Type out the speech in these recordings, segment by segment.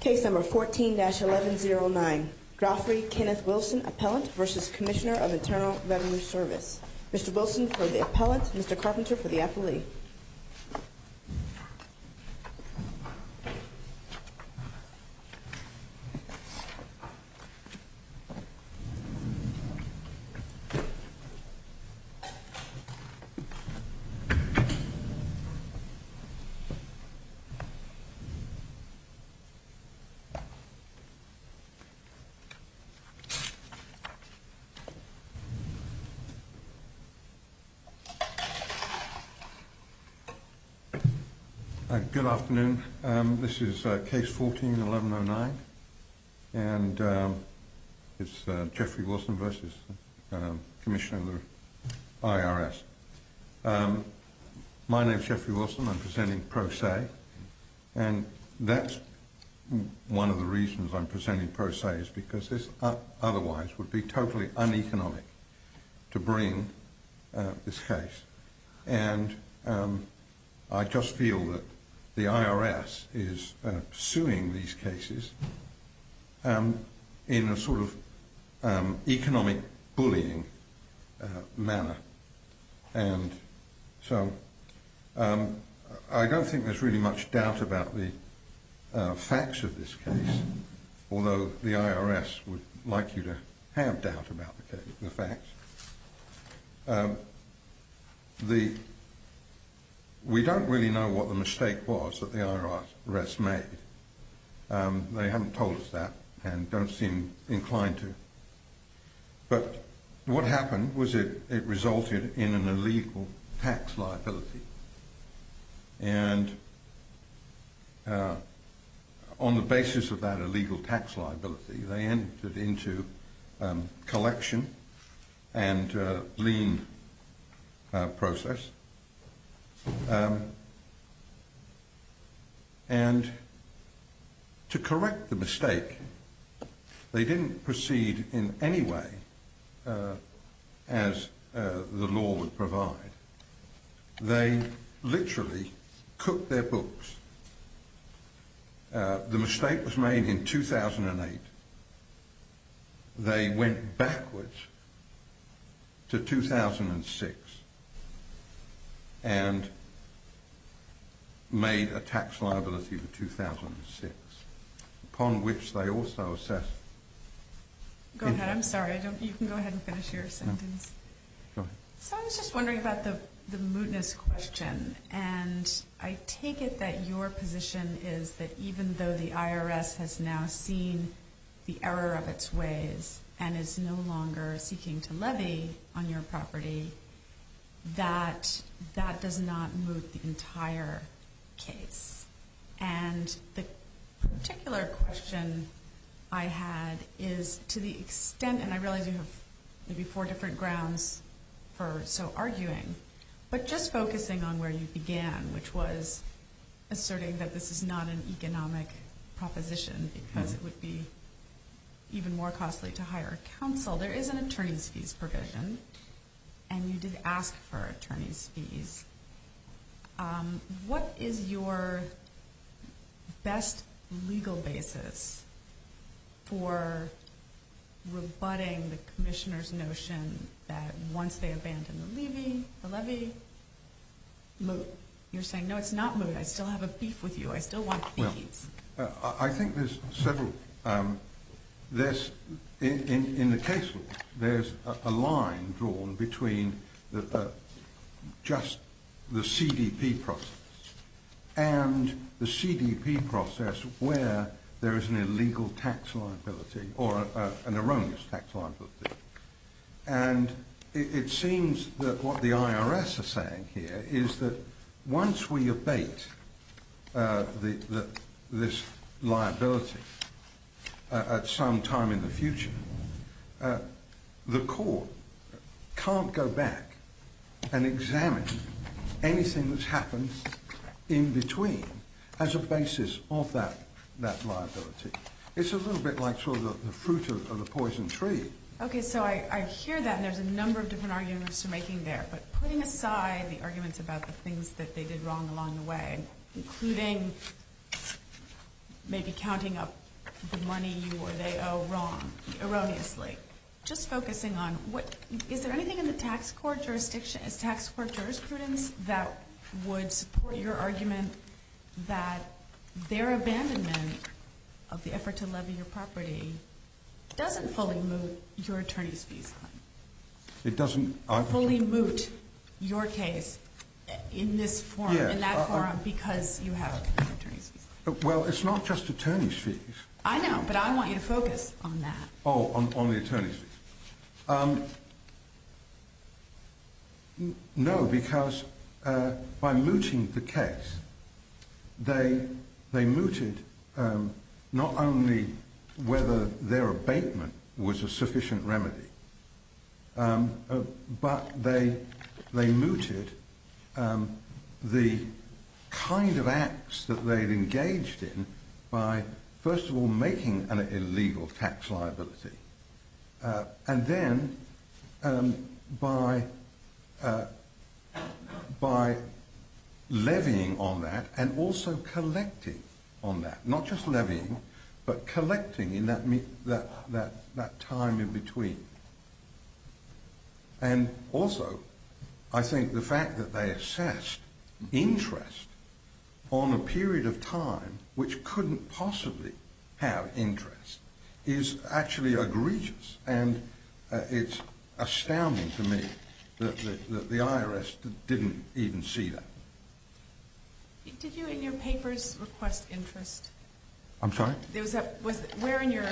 Case number 14-1109, Drawfrey Kenneth Wilson Appellant versus Commissioner of Internal Revenue Service. Mr. Wilson for the appellant, Mr. Carpenter for the affilee. Good afternoon, this is case 14-1109 and it's Geoffrey Wilson versus Commissioner of the IRS. My name is Geoffrey Wilson, I'm presenting pro se and that's one of the reasons I'm presenting pro se is because this otherwise would be totally uneconomic to bring this case and I just feel that the IRS is suing these cases in a sort of economic bullying manner. And so I don't think there's really much doubt about the facts of this case, although the IRS would like you to have doubt about the facts. We don't really know what the mistake was that the IRS made, they haven't told us that and don't seem inclined to, but what happened was it resulted in an illegal tax liability and on the basis of that illegal tax liability they entered into collection and lien process and to correct the mistake, they didn't proceed in any way as the law would provide, they literally cooked their books. The mistake was made in 2008, they went backwards to 2006 and made a tax liability for 2006 upon which they also assessed. Go ahead, I'm sorry you can go ahead and finish your sentence. So I was just wondering about the mootness question and I take it that your position is that even though the IRS has now seen the error of its ways and is no longer seeking to levy on your property, that that does not moot the entire case. And the particular question I had is to the extent, and I realize you have maybe four different grounds for so arguing, but just focusing on where you began which was asserting that this is not an economic proposition because it would be even more costly to hire counsel. There is an attorney's fees provision and you did ask for attorney's fees. What is your best legal basis for rebutting the Commissioner's notion that once they abandon the levy, the levy, moot. You're saying no it's not moot, I still have a beef with you, I still want fees. I think there's several, in the case law there's a line drawn between just the CDP process and the CDP process where there is an illegal tax liability or an erroneous tax liability. And it seems that what the IRS is saying here is that once we abate this liability at some time in the future, the court can't go back and examine anything that's happened in between as a basis of that liability. It's a little bit like sort of the fruit of the poison tree. Okay, so I hear that and there's a number of different arguments you're making there, but putting aside the arguments about the things that they did wrong along the way, including maybe counting up the money you or they owe wrong, erroneously. Just focusing on, is there anything in the tax court jurisprudence that would support your argument that their abandonment of the effort to levy your property doesn't fully moot your attorney's fees? It doesn't, I... Fully moot your case in this forum, in that forum, because you have attorney's fees. Well, it's not just attorney's fees. I know, but I want you to focus on that. Oh, on the attorney's fees. No, because by mooting the case, they mooted not only whether their abatement was a sufficient remedy, but they mooted the kind of acts that they'd engaged in by, first of all, making an illegal tax liability, and then by levying on that and also collecting on that. Not just levying, but collecting in that time in between. And also, I think the fact that they assessed interest on a period of time which couldn't possibly have interest is actually egregious, and it's astounding to me that the IRS didn't even see that. Did you, in your papers, request interest? I'm sorry? Where in your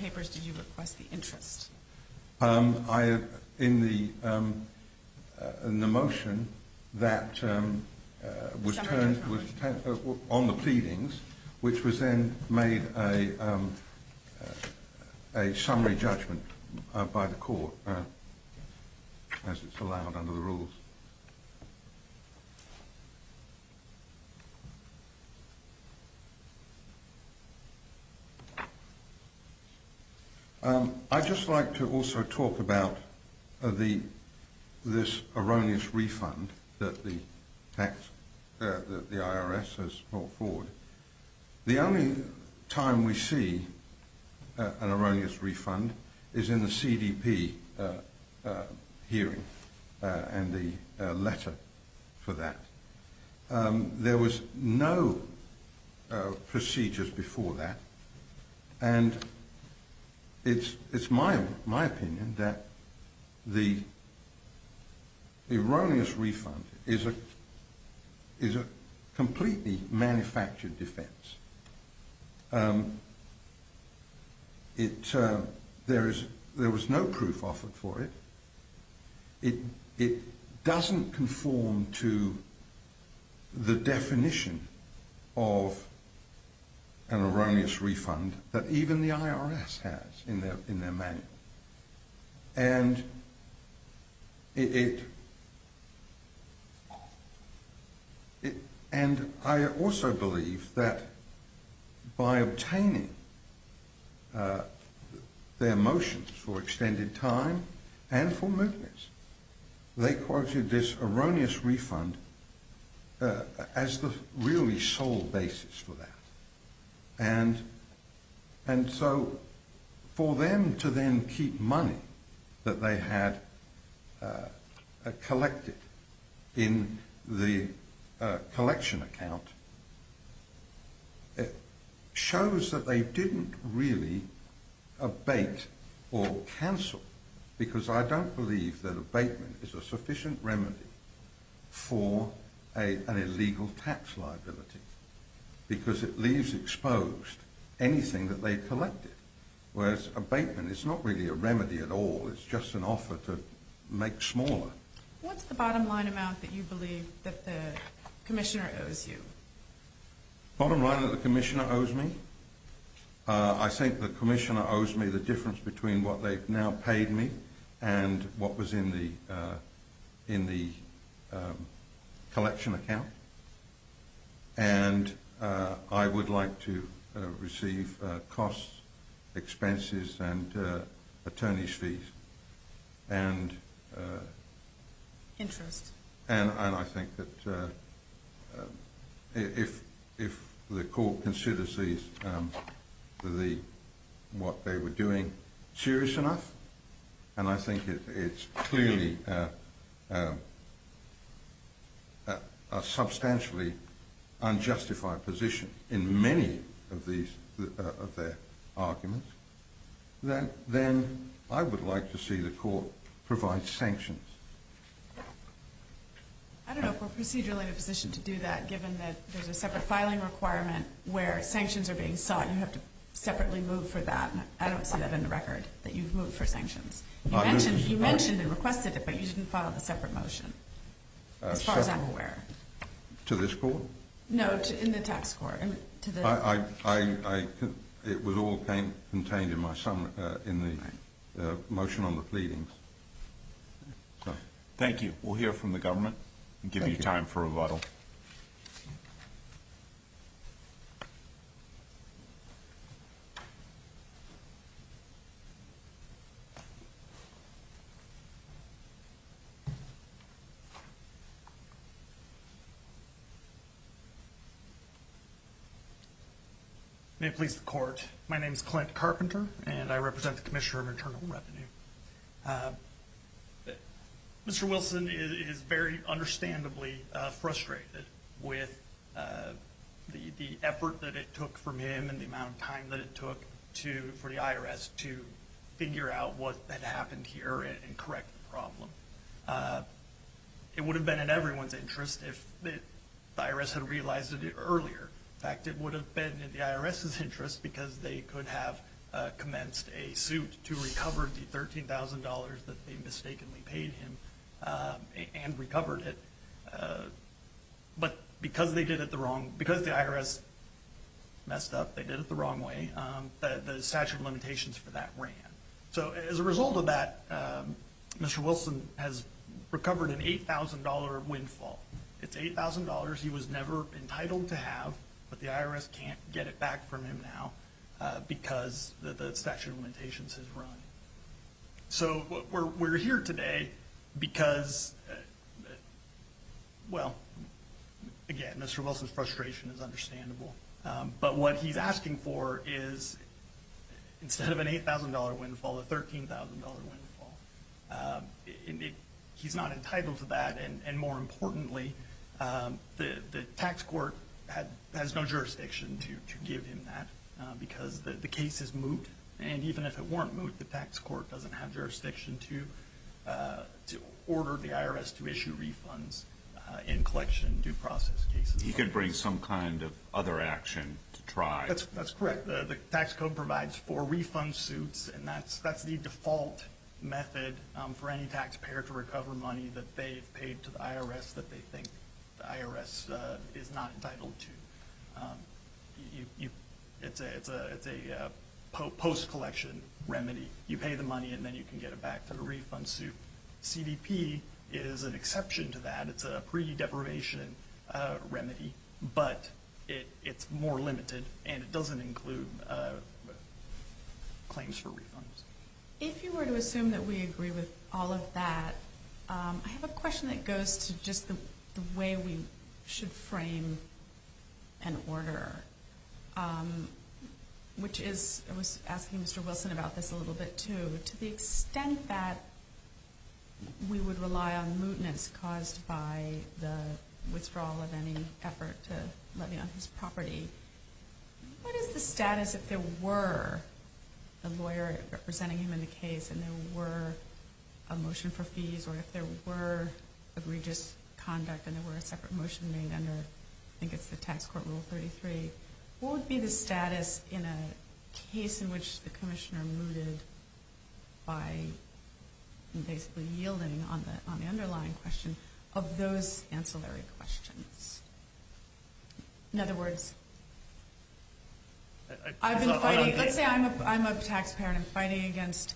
papers did you request the interest? In the motion that was turned on the pleadings, which was then made a summary judgment by the court as it's allowed under the rules. I'd just like to also talk about this erroneous refund that the IRS has brought forward. The only time we see an erroneous refund is in the CDP hearing and the letter for that. There was no procedures before that, and it's my opinion that the erroneous refund is a completely manufactured defense. There was no proof offered for it. It doesn't conform to the definition of an erroneous refund that even the IRS has in their manual. And I also believe that by obtaining their motions for extended time and for movements, they quoted this erroneous refund as the really sole basis for that. And so for them to then keep money that they had collected in the collection account shows that they didn't really abate or cancel, because I don't believe that abatement is a sufficient remedy for an illegal tax liability, because it leaves exposed anything that they've collected, whereas abatement is not really a remedy at all, it's just an offer to make smaller. What's the bottom line amount that you believe that the Commissioner owes you? Bottom line that the Commissioner owes me? I think the Commissioner owes me the difference between what they've now paid me and what was in the collection account. And I would like to receive costs, expenses, and attorney's fees. Interest. And I think that if the Court considers what they were doing serious enough, and I think it's clearly a substantially unjustified position in many of their arguments, then I would like to see the Court provide sanctions. I don't know if we're procedurally in a position to do that, given that there's a separate filing requirement where sanctions are being sought, you have to separately move for that, and I don't see that in the record, that you've moved for sanctions. You mentioned and requested it, but you didn't file a separate motion, as far as I'm aware. To this Court? No, in the Tax Court. It was all contained in the motion on the pleadings. Thank you. We'll hear from the Government and give you time for rebuttal. May it please the Court. My name is Clint Carpenter, and I represent the Commissioner of Internal Revenue. Mr. Wilson is very understandably frustrated with the effort that it took from him and the amount of time that it took for the IRS to figure out what had happened here and correct the problem. It would have been in everyone's interest if the IRS had realized it earlier. In fact, it would have been in the IRS's interest because they could have commenced a suit to recover the $13,000 that they mistakenly paid him and recovered it. But because the IRS messed up, they did it the wrong way, the statute of limitations for that ran. As a result of that, Mr. Wilson has recovered an $8,000 windfall. It's $8,000 he was never entitled to have, but the IRS can't get it back from him now because the statute of limitations has run. We're here today because, well, again, Mr. Wilson's frustration is understandable. But what he's asking for is, instead of an $8,000 windfall, a $13,000 windfall. He's not entitled to that, and more importantly, the tax court has no jurisdiction to give him that because the case is moot. And even if it weren't moot, the tax court doesn't have jurisdiction to order the IRS to issue refunds in collection due process cases. He could bring some kind of other action to try. That's correct. The tax code provides for refund suits, and that's the default method for any taxpayer to recover money that they've paid to the IRS that they think the IRS is not entitled to. It's a post-collection remedy. You pay the money, and then you can get it back to the refund suit. CDP is an exception to that. It's a pre-deprivation remedy, but it's more limited, and it doesn't include claims for refunds. If you were to assume that we agree with all of that, I have a question that goes to just the way we should frame an order, which is – that we would rely on mootness caused by the withdrawal of any effort to levy on his property. What is the status if there were a lawyer representing him in the case and there were a motion for fees, or if there were egregious conduct and there were a separate motion made under, I think it's the tax court rule 33, what would be the status in a case in which the commissioner mooted by basically yielding on the underlying question of those ancillary questions? In other words, I've been fighting – let's say I'm a taxpayer and I'm fighting against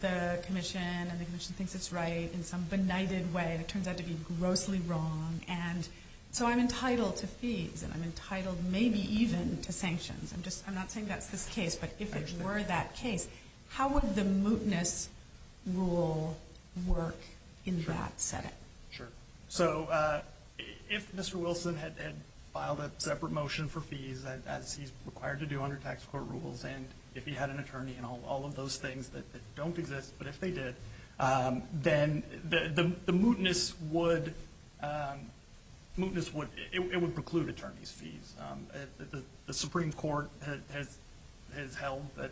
the commission, and the commission thinks it's right in some benighted way, and it turns out to be grossly wrong, and so I'm entitled to fees, and I'm entitled maybe even to sanctions. I'm not saying that's this case, but if it were that case, how would the mootness rule work in that setting? Sure. So if Mr. Wilson had filed a separate motion for fees, as he's required to do under tax court rules, and if he had an attorney and all of those things that don't exist, but if they did, then the mootness would – it would preclude attorney's fees. The Supreme Court has held that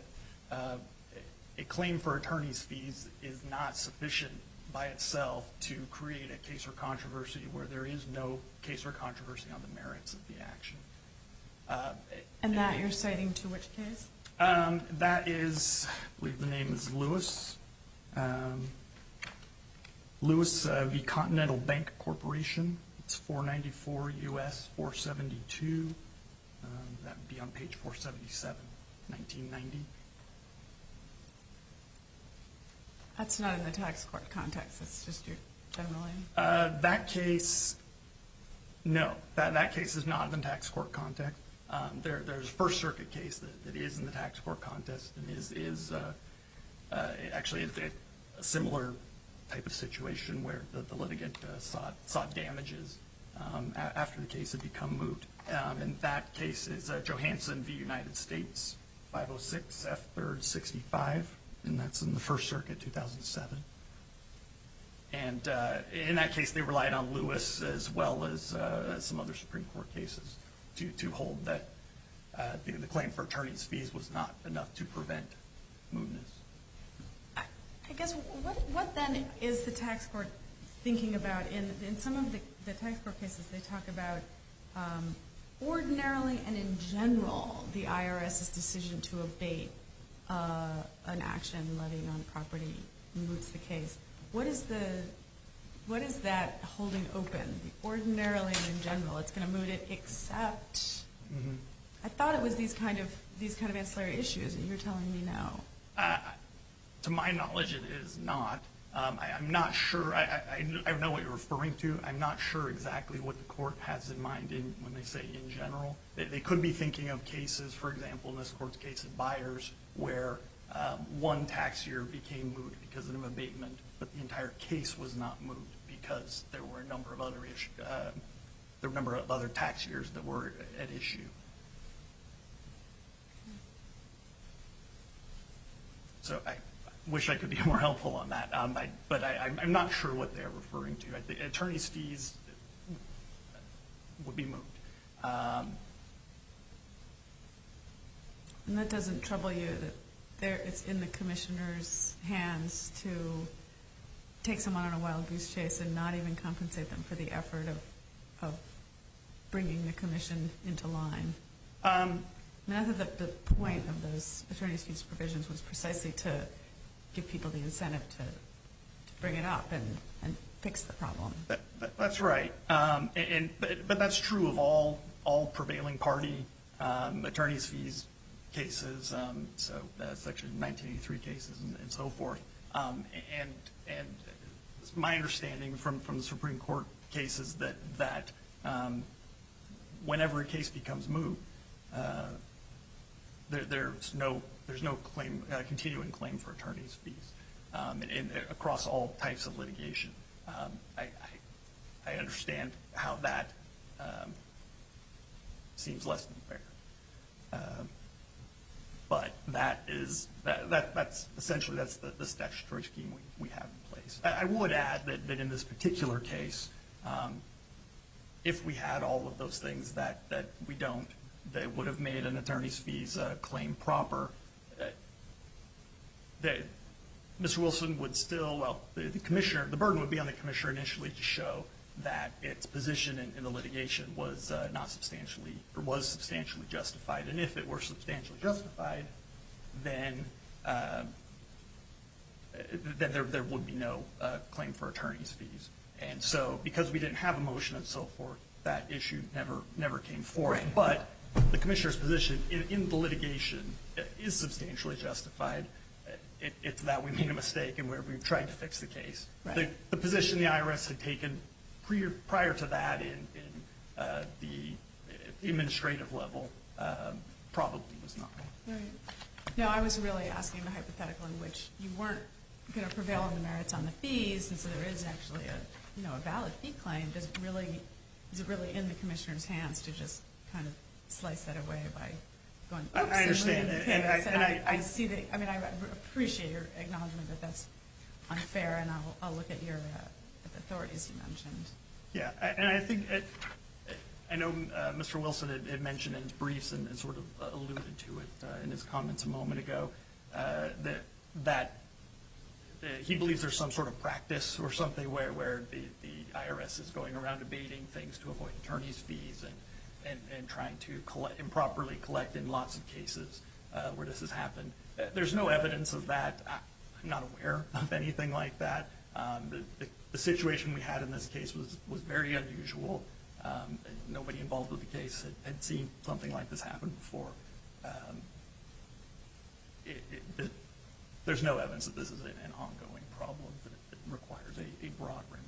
a claim for attorney's fees is not sufficient by itself to create a case or controversy where there is no case or controversy on the merits of the action. And that you're citing to which case? That is – I believe the name is Lewis. Lewis v. Continental Bank Corporation. It's 494 U.S. 472. That would be on page 477, 1990. That's not in the tax court context. That's just your general name? That case, no. That case is not in the tax court context. There's a First Circuit case that is in the tax court context and is actually a similar type of situation where the litigant sought damages after the case had become moot. And that case is Johansson v. United States, 506 F. 3rd. 65, and that's in the First Circuit, 2007. And in that case they relied on Lewis as well as some other Supreme Court cases to hold that the claim for attorney's fees was not enough to prevent mootness. I guess what then is the tax court thinking about? In some of the tax court cases they talk about ordinarily and in general the IRS's decision to abate an action letting on property moots the case. What is that holding open? Ordinarily and in general it's going to moot it, except I thought it was these kind of ancillary issues and you're telling me no. To my knowledge it is not. I'm not sure. I know what you're referring to. I'm not sure exactly what the court has in mind when they say in general. They could be thinking of cases, for example, in this court's case of buyers where one tax year became moot because of an abatement, but the entire case was not moot because there were a number of other tax years that were at issue. So I wish I could be more helpful on that, but I'm not sure what they're referring to. Attorney's fees would be moot. And that doesn't trouble you that it's in the commissioner's hands to take someone on a wild goose chase and not even compensate them for the effort of bringing the commission into line? I thought the point of those attorney's fees provisions was precisely to give people the incentive to bring it up and fix the problem. That's right, but that's true of all prevailing party attorney's fees cases, so Section 1983 cases and so forth. And it's my understanding from the Supreme Court cases that whenever a case becomes moot, there's no continuing claim for attorney's fees across all types of litigation. I understand how that seems less than fair, but essentially that's the statutory scheme we have in place. I would add that in this particular case, if we had all of those things that we don't, that would have made an attorney's fees claim proper, Mr. Wilson would still – well, the burden would be on the commissioner initially to show that its position in the litigation was substantially justified. And if it were substantially justified, then there would be no claim for attorney's fees. And so because we didn't have a motion and so forth, that issue never came forward. But the commissioner's position in the litigation is substantially justified. It's that we made a mistake in where we tried to fix the case. The position the IRS had taken prior to that in the administrative level probably was not right. Now, I was really asking the hypothetical in which you weren't going to prevail on the merits on the fees, and so there is actually a valid fee claim. Is it really in the commissioner's hands to just kind of slice that away by going, oops, there's more than it pays? I mean, I appreciate your acknowledgment that that's unfair, and I'll look at the authorities you mentioned. Yeah, and I think – I know Mr. Wilson had mentioned in his briefs and sort of alluded to it in his comments a moment ago that he believes there's some sort of practice or something where the IRS is going around debating things to avoid attorney's fees and trying to improperly collect in lots of cases where this has happened. There's no evidence of that. I'm not aware of anything like that. The situation we had in this case was very unusual. Nobody involved with the case had seen something like this happen before. There's no evidence that this is an ongoing problem that requires a broad remedy.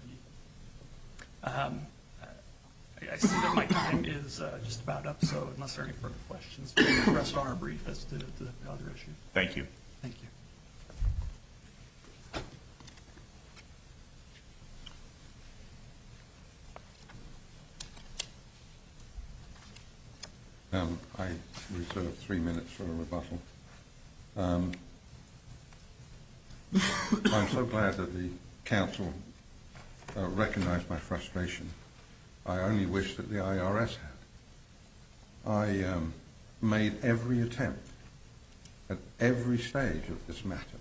I see that my time is just about up, so unless there are any further questions, we'll rest on our brief as to the other issues. Thank you. Thank you. I reserve three minutes for rebuttal. I'm so glad that the Council recognized my frustration. I only wish that the IRS had. I made every attempt at every stage of this matter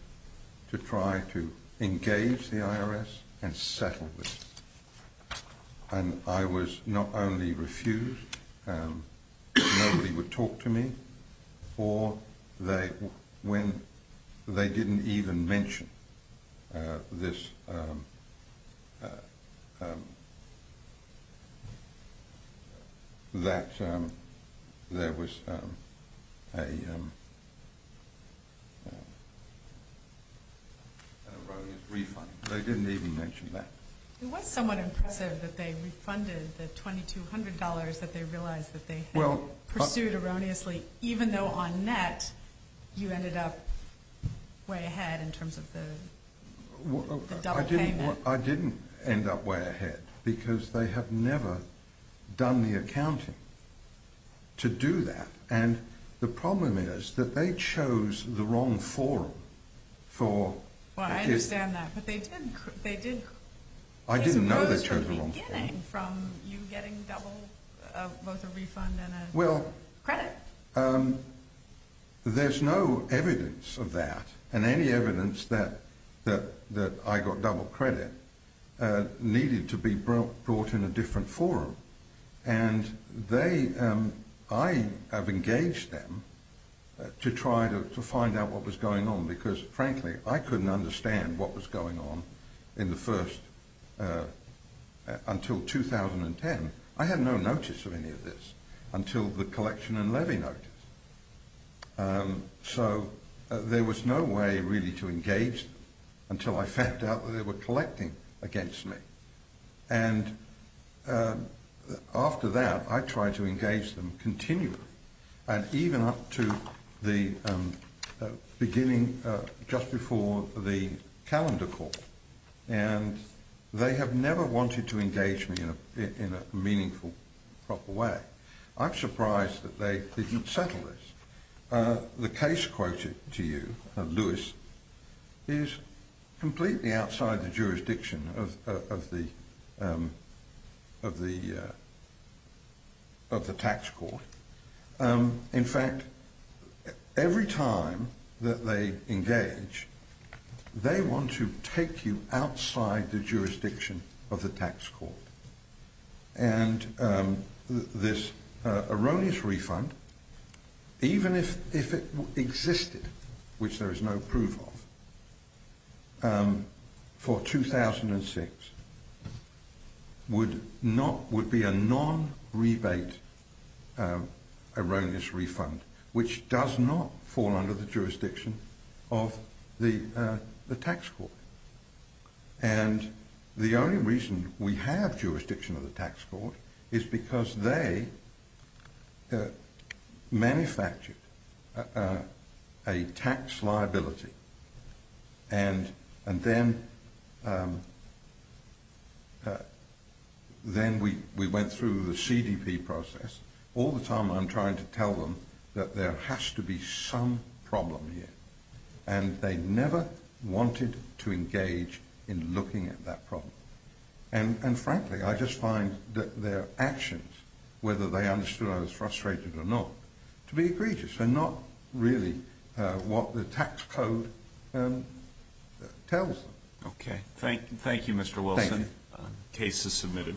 to try to engage the IRS and settle this. I was not only refused, nobody would talk to me, or they didn't even mention that there was an erroneous refund. They didn't even mention that. It was somewhat impressive that they refunded the $2,200 that they realized that they had pursued erroneously, even though on net you ended up way ahead in terms of the double payment. I didn't end up way ahead because they have never done the accounting to do that. The problem is that they chose the wrong forum. I understand that, but they did. I didn't know they chose the wrong forum. Well, there's no evidence of that, and any evidence that I got double credit needed to be brought in a different forum, and I have engaged them to try to find out what was going on because, frankly, I couldn't understand what was going on until 2010. I had no notice of any of this until the collection and levy notice, so there was no way really to engage them until I found out that they were collecting against me, and after that I tried to engage them continually, and even up to the beginning just before the calendar call, and they have never wanted to engage me in a meaningful, proper way. I'm surprised that they didn't settle this. The case quoted to you, Lewis, is completely outside the jurisdiction of the tax court, in fact, every time that they engage, they want to take you outside the jurisdiction of the tax court, and this erroneous refund, even if it existed, which there is no proof of, for 2006 would be a non-rebate erroneous refund, which does not fall under the jurisdiction of the tax court, and the only reason we have jurisdiction of the tax court is because they manufactured a tax liability, and then we went through the CDP process, all the time I'm trying to tell them that there has to be some problem here, and they never wanted to engage in looking at that problem, and frankly I just find that their actions, whether they understood I was frustrated or not, to be egregious and not really what the tax code tells them. Okay. Thank you, Mr. Wilson. Thank you. Case is submitted.